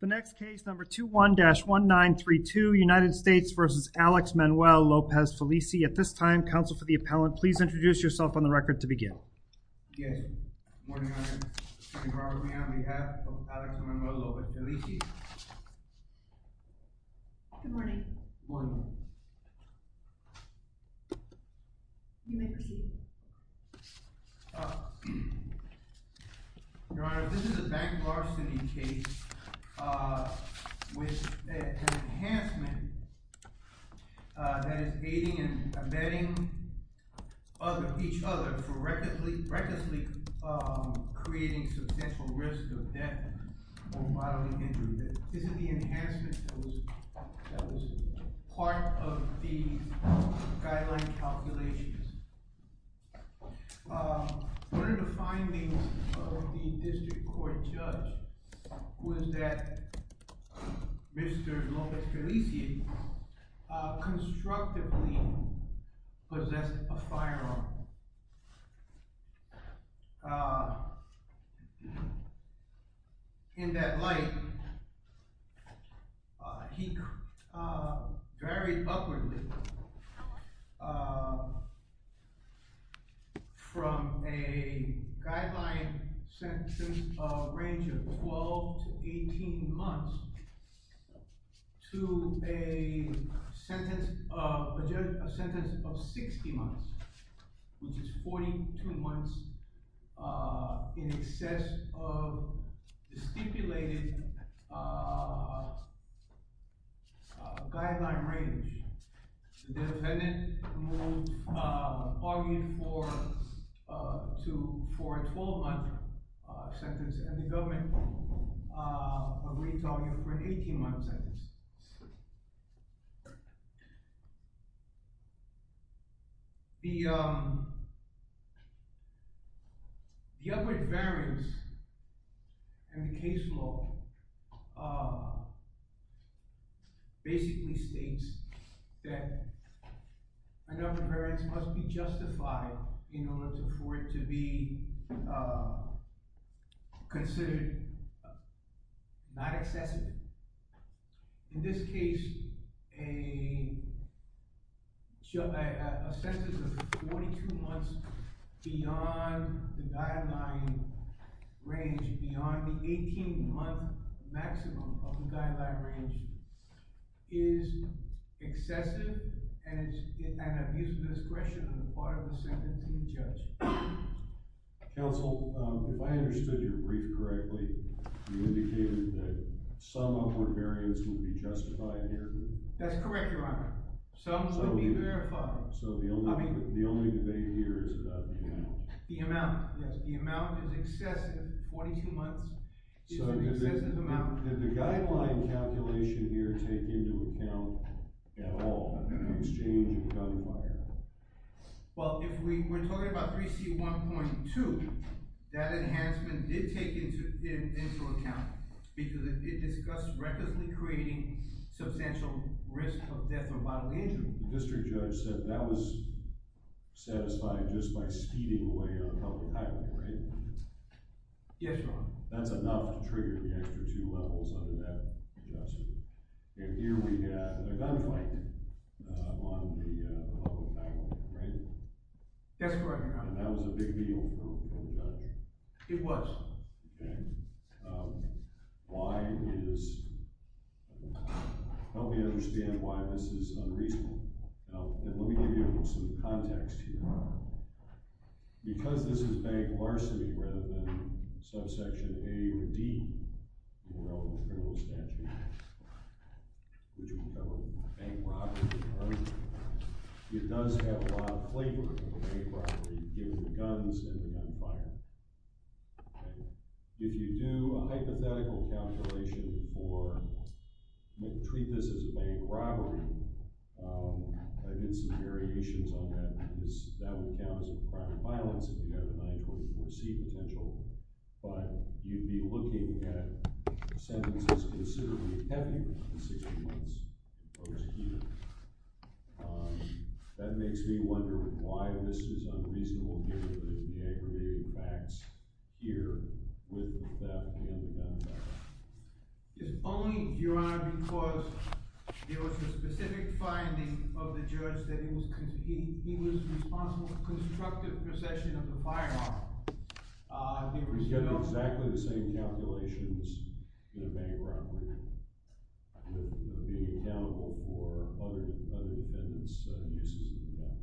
The next case, number 21-1932, United States v. Alex Manuel Lopez-Felicie. At this time, counsel for the appellant, please introduce yourself on the record to begin. Yes. Good morning, Your Honor. Robert Meehan on behalf of Alex Manuel Lopez-Felicie. Good morning. Good morning. You may proceed. Your Honor, this is a bank larceny case with an enhancement that is aiding and abetting each other for recklessly creating substantial risk of death or bodily injury. Isn't the What are the findings of the district court judge was that Mr. Lopez-Felicie constructively possessed a firearm. In that light, he varied upwardly from a guideline sentence of a range of 12 to 18 months to a sentence of a sentence of 60 months, which is 42 months in excess of the stipulated guideline range. The defendant moved arguing for a 12-month sentence and the government agreed to argue for an 18-month sentence. The upward variance in the case law basically states that an upward variance must be justified in order for it to be considered not excessive. In this case, a sentence of 42 months beyond the guideline range, beyond the 18-month maximum of the guideline range, is excessive and is an abuse of discretion on the part of the sentencing judge. Counsel, if I understood your brief correctly, you indicated that some upward variance would be justified here? That's correct, Your Honor. Some would be verified. So the only debate here is about the amount. The amount, yes. The amount is excessive. 42 months is an excessive amount. Did the guideline calculation here take into account at all the exchange of gunfire? Well, if we're talking about 3C1.2, that enhancement did take into account because it discussed recklessly creating substantial risk of death or bodily injury. The district judge said that was satisfied just by speeding away on a public highway, right? Yes, Your Honor. That's enough to trigger the extra two levels under that adjustment. And here we had a gunfight on the public highway, right? That's correct, Your Honor. And that was a big deal for the judge? It was. Okay. Why is—help me understand why this is unreasonable. Now, let me give you some context here, Your Honor. Because this is bank larceny rather than subsection A or D in the relevant criminal statute, which we call bank robbery, Your Honor, it does have a lot of flavor of a bank robbery given the guns and the gunfire. If you do a hypothetical calculation for—you might treat this as a bank robbery. I did some variations on that because that would count as a crime of violence if you have a 924C potential, but you'd be looking at sentences considerably heavier than 60 months for folks here. That makes me wonder why this is unreasonable given the aggravating facts here with the theft and the gunfire. It's only, Your Honor, because there was a specific finding of the judge that he was responsible for constructive possession of the firearm. He was getting exactly the same calculations in a bank robbery with being accountable for other defendants' uses of the gun.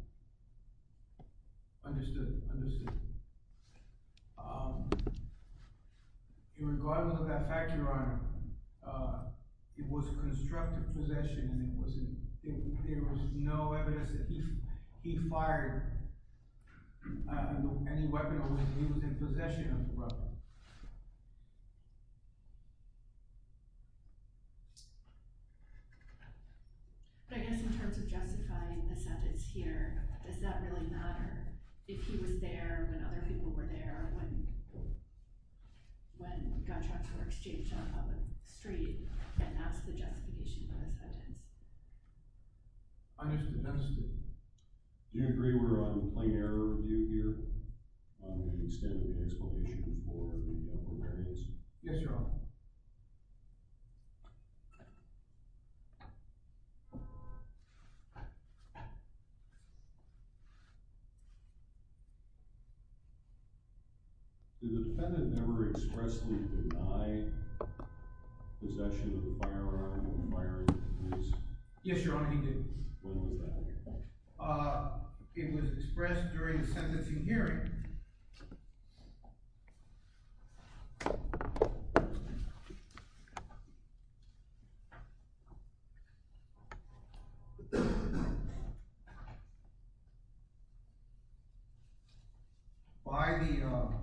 Understood, understood. In regard to that fact, Your Honor, it was constructive possession, and there was no evidence that he fired any weapon or that he was in possession of the weapon. But I guess in terms of justifying the sentence here, does that really matter? If he was there when other people were there, when contracts were exchanged on a public street, can't ask the justification for the sentence. Your Honor, do you agree we're on a plain error review here, and extend the explanation for the variance? Yes, Your Honor. Did the defendant never expressly deny possession of the firearm when firing? Yes, Your Honor, he did. When was that? Uh, it was expressed during the sentencing hearing. By the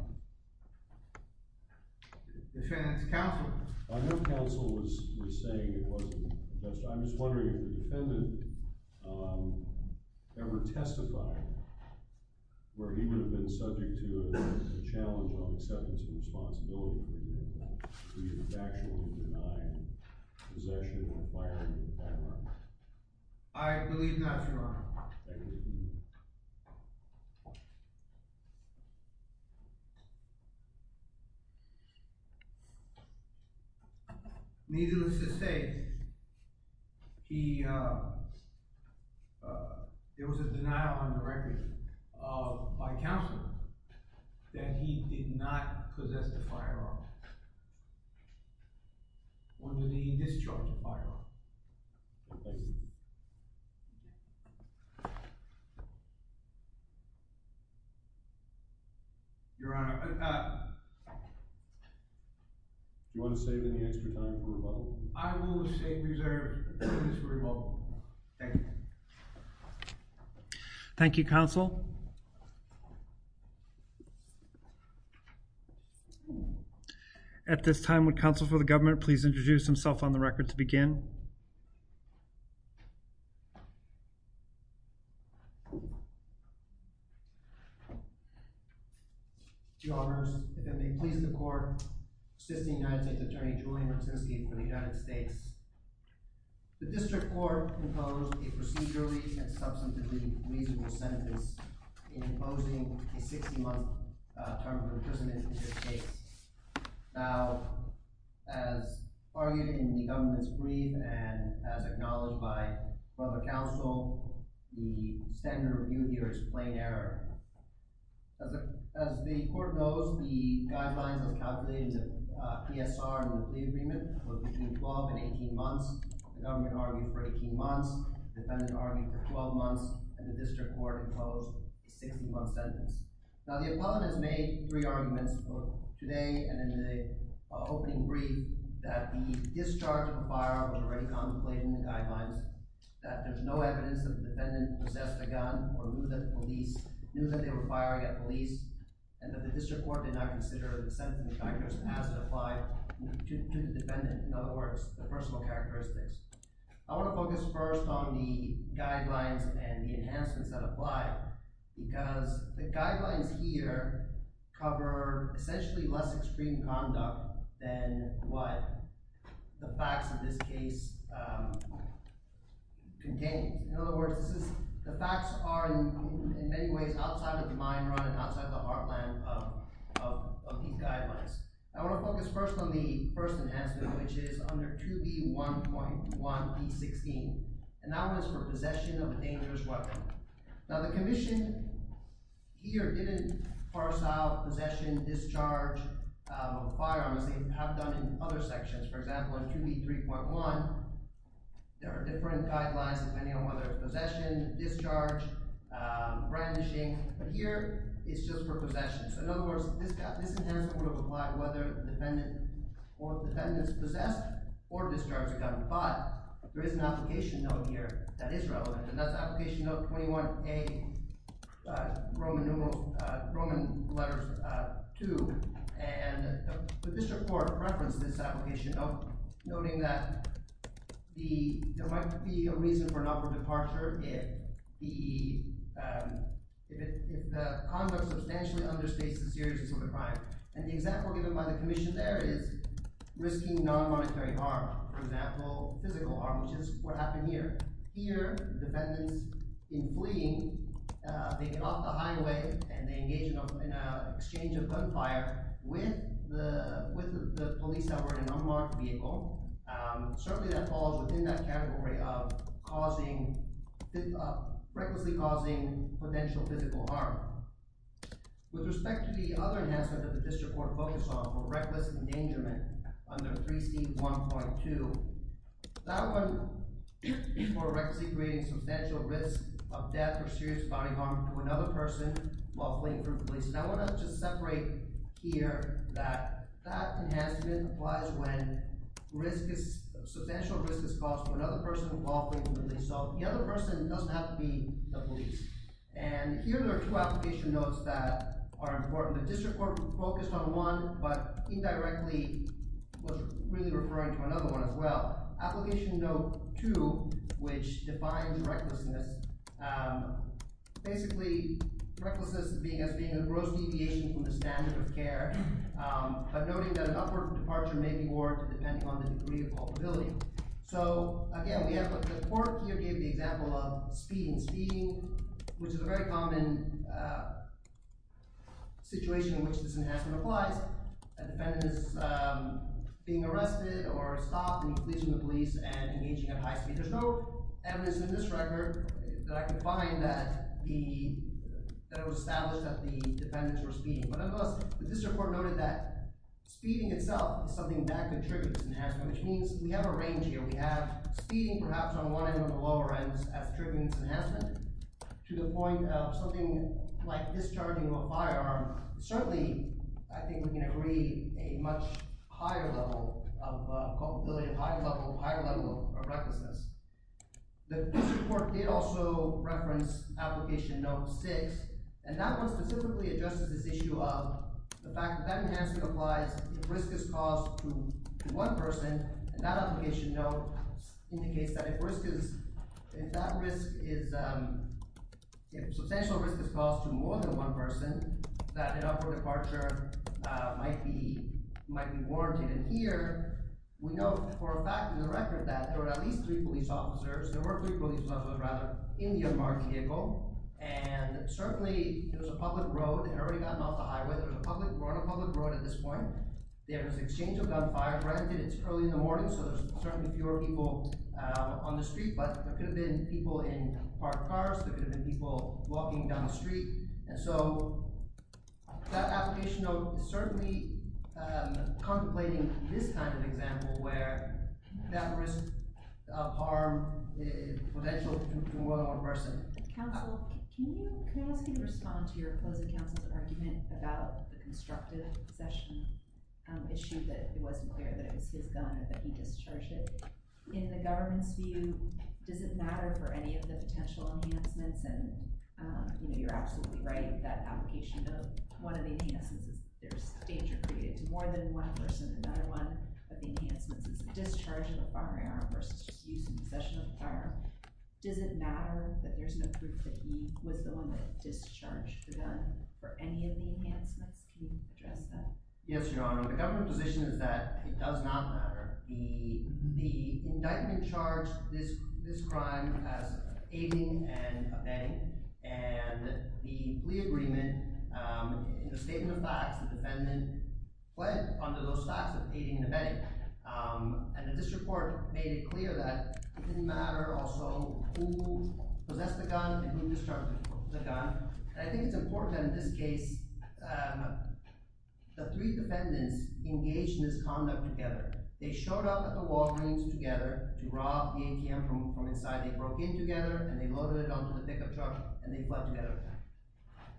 defendant's counsel. I know counsel was saying it wasn't. I'm just wondering if the defendant ever testified where he would have been subject to a challenge on acceptance of responsibility, for example, if he had actually denied possession of a firearm in the background. I believe not, Your Honor. Needless to say, there was a denial on the record by counsel that he did not possess the firearm. When did he discharge the firearm? Your Honor. Do you want to save any extra time for rebuttal? I will save reserve for this rebuttal. Thank you. Thank you, counsel. At this time, would counsel for the government please introduce himself on the record to begin? Your Honors, if it may please the court, assisting United States Attorney Julian Brzezinski for the United States. The District Court imposed a procedurally and substantively reasonable sentence in imposing a 60-month term of imprisonment in this case. Now, as argued in the government's brief and as acknowledged by the counsel, the standard review here is plain error. As the court knows, the guidelines as calculated in the PSR and the plea agreement were between 12 and 18 months. The government argued for 18 months, the defendant argued for 12 months, and the District Court imposed a 60-month sentence. Now, the appellant has made three arguments, both today and in the opening brief, that the discharge of a firearm was already contemplated in the guidelines, that there's no evidence that the defendant possessed a gun or knew that they were firing at police, and that the District Court did not consider the sentencing factors as it applied to the defendant. In other words, the personal characteristics. I want to focus first on the guidelines and the enhancements that apply because the guidelines here cover essentially less extreme conduct than what the facts of this case contain. In other words, the facts are in many ways outside of the mind-run and outside the heartland of these guidelines. I want to focus first on the first enhancement, which is under 2B1.1b16, and that one is for possession of a dangerous weapon. Now, the Commission here didn't parse out possession, discharge of a firearm as they have done in other sections. For example, in 2B3.1, there are different guidelines depending on whether it's possession, discharge, brandishing, but here it's just for possession. So in other words, this enhancement would apply whether the defendant is possessed or discharged a gun, but there is an application note here that is relevant, and that's Application Note 21A, Roman Numerals, Roman Letters 2, and the District Court referenced this application note, noting that there might be a reason for an upward departure if the conduct substantially understates the seriousness of the crime. And the example given by the Commission there is risking non-monetary harm. For example, physical harm, which is what happened here. Here, the defendants, in fleeing, they get off the highway and they engage in an exchange of gunfire with the police that were in an unmarked vehicle. Certainly that falls within that category of causing—recklessly causing potential physical harm. With respect to the other enhancement that the District Court focused on, for reckless endangerment under 3C1.2, that one is for recklessly creating substantial risk of death or serious body harm to another person while fleeing from the police. And I want to just separate here that that enhancement applies when substantial risk is caused to another person while fleeing from the police. And here there are two application notes that are important. The District Court focused on one, but indirectly was really referring to another one as well. Application note 2, which defines recklessness, basically recklessness as being a gross deviation from the standard of care, but noting that an upward departure may be warranted depending on the degree of culpability. So again, we have—the Court here gave the example of speeding. Speeding, which is a very common situation in which this enhancement applies. A defendant is being arrested or stopped and he flees from the police and engaging in a high speed. There's no evidence in this record that I could find that the—that it was established that the defendants were speeding. But nonetheless, the District Court noted that speeding itself is something that contributes to this enhancement, which means we have a range here. We have speeding perhaps on one end or the lower end as a trigger for this enhancement to the point of something like discharging of a firearm. Certainly, I think we can agree a much higher level of culpability, a higher level of recklessness. The District Court did also reference application note 6, and that one specifically addresses this issue of the fact that that enhancement applies if risk is caused to one person. And that application note indicates that if risk is—if that risk is—if substantial risk is caused to more than one person, that an upward departure might be warranted. And here, we note for a fact in the record that there were at least three police officers—there were three police officers, rather, in the unmarked vehicle. And certainly, there was a public road. It had already gotten off the highway. There was a public road—a public road at this point. There was an exchange of gunfire. Granted, it's early in the morning, so there's certainly fewer people on the street. But there could have been people in parked cars. There could have been people walking down the street. And so, that application note is certainly contemplating this kind of example, where that risk of harm is potential to more than one person. Counsel, can you—can I ask you to respond to your opposing counsel's argument about the constructive possession issue that it wasn't clear that it was his gun and that he discharged it? In the government's view, does it matter for any of the potential enhancements? And, you know, you're absolutely right with that application note. One of the enhancements is that there's danger created to more than one person. Another one of the enhancements is the discharge of a firearm versus just use and possession of a firearm. Does it matter that there's no proof that he was the one that discharged the gun for any of the enhancements? Can you address that? Yes, Your Honor. The government position is that it does not matter. The indictment charged this crime as aiding and abetting. And the plea agreement, in the statement of facts, the defendant pled under those facts of aiding and abetting. And this report made it clear that it didn't matter also who possessed the gun and who discharged the gun. And I think it's important in this case, the three defendants engaged in this conduct together. They showed up at the Walgreens together to rob the ATM from inside. They broke in together, and they loaded it onto the pickup truck, and they fled together.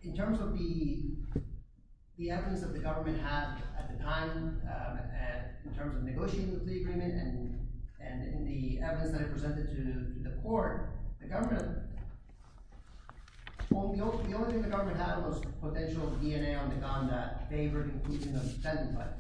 In terms of the evidence that the government had at the time, in terms of negotiating the plea agreement and the evidence that it presented to the court, the only thing the government had was potential DNA on the gun that favored including the defendant. But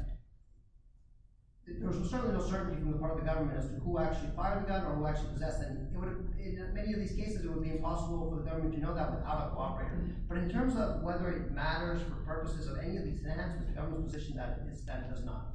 there was certainly no certainty from the part of the government as to who actually fired the gun or who actually possessed it. In many of these cases, it would be impossible for the government to know that without a lawyer. But in terms of whether it matters for purposes of any of these events, it's the government's position that it does not.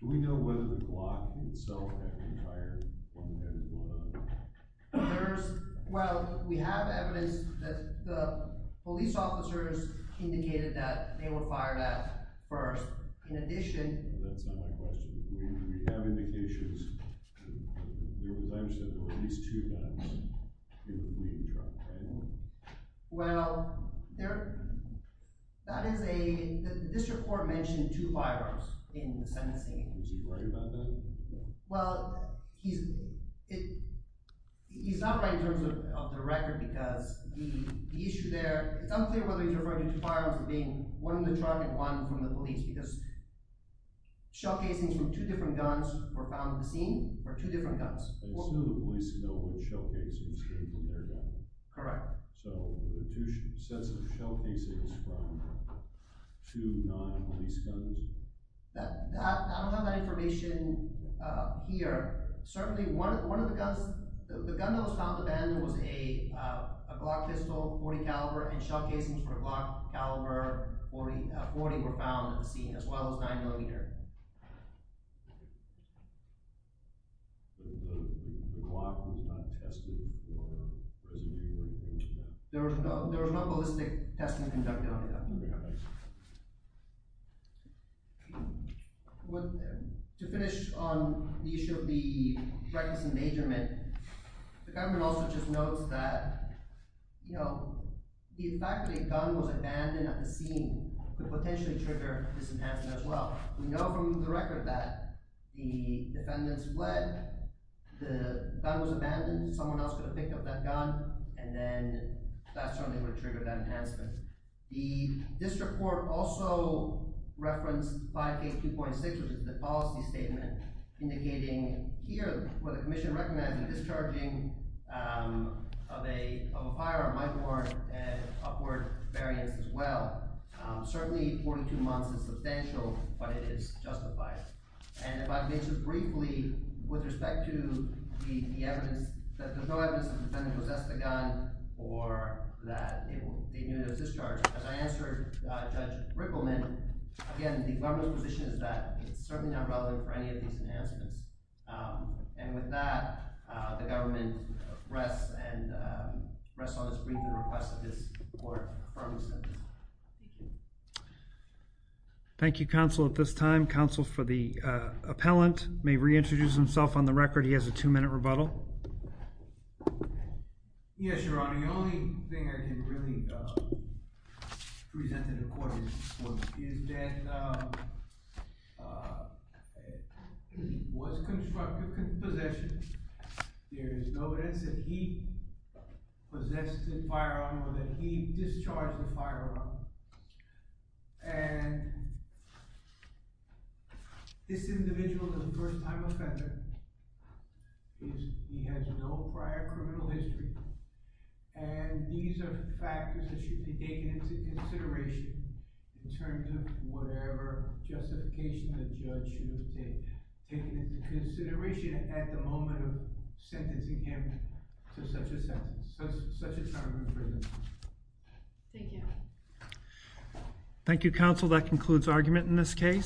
Do we know whether the Glock itself had been fired or what had been going on? Well, we have evidence that the police officers indicated that they were fired at first. In addition— That's not my question. Do we have indications that there were times when at least two guns were being dropped randomly? Well, that is a—the district court mentioned two firearms in the sentencing. Was he right about that? Well, he's not right in terms of the record because the issue there—it's unclear whether he's referring to two firearms as being one in the truck and one from the police because shell casings from two different guns were found at the scene, or two different guns. I assume the police know which shell casings came from their gun. Correct. So the two sets of shell casings from two non-police guns? I don't have that information here. Certainly, one of the guns—the gun that was found at the bend was a Glock pistol, .40 caliber, and shell casings for a Glock caliber .40 were found at the scene, as well as a 9mm. But the Glock was not tested for residue or anything like that? There was no—there was no ballistic testing conducted on the gun. Okay. To finish on the issue of the reckless endangerment, the government also just notes that, you know, the fact that a gun was abandoned at the scene could potentially trigger this enhancement as well. We know from the record that the defendants fled, the gun was abandoned, someone else could have picked up that gun, and then that certainly would have triggered that enhancement. The district court also referenced 5K2.6, which is the policy statement, indicating here where the commission recommends the discharging of a pyre or a might warrant an upward variance as well. Certainly, 42 months is substantial, but it is justified. And if I could mention briefly, with respect to the evidence, that there's no evidence that the defendant possessed the gun or that they knew it was discharged, as I answered Judge Rickleman, again, the government's position is that it's certainly not relevant for any of these enhancements. And with that, the government rests on its brief and requests that this court affirm Thank you. Thank you, counsel. At this time, counsel for the appellant may reintroduce himself on the record. He has a two-minute rebuttal. Yes, Your Honor. The only thing I can really present to the court is that it was constructive possession. There is no evidence that he possessed the firearm or that he discharged the firearm. And this individual is a first-time offender. He has no prior criminal history. And these are factors that should be taken into consideration in terms of whatever justification the judge should have taken into consideration at the moment of sentencing him to such a sentence, such a time in prison. Thank you. Thank you, counsel. That concludes argument in this case.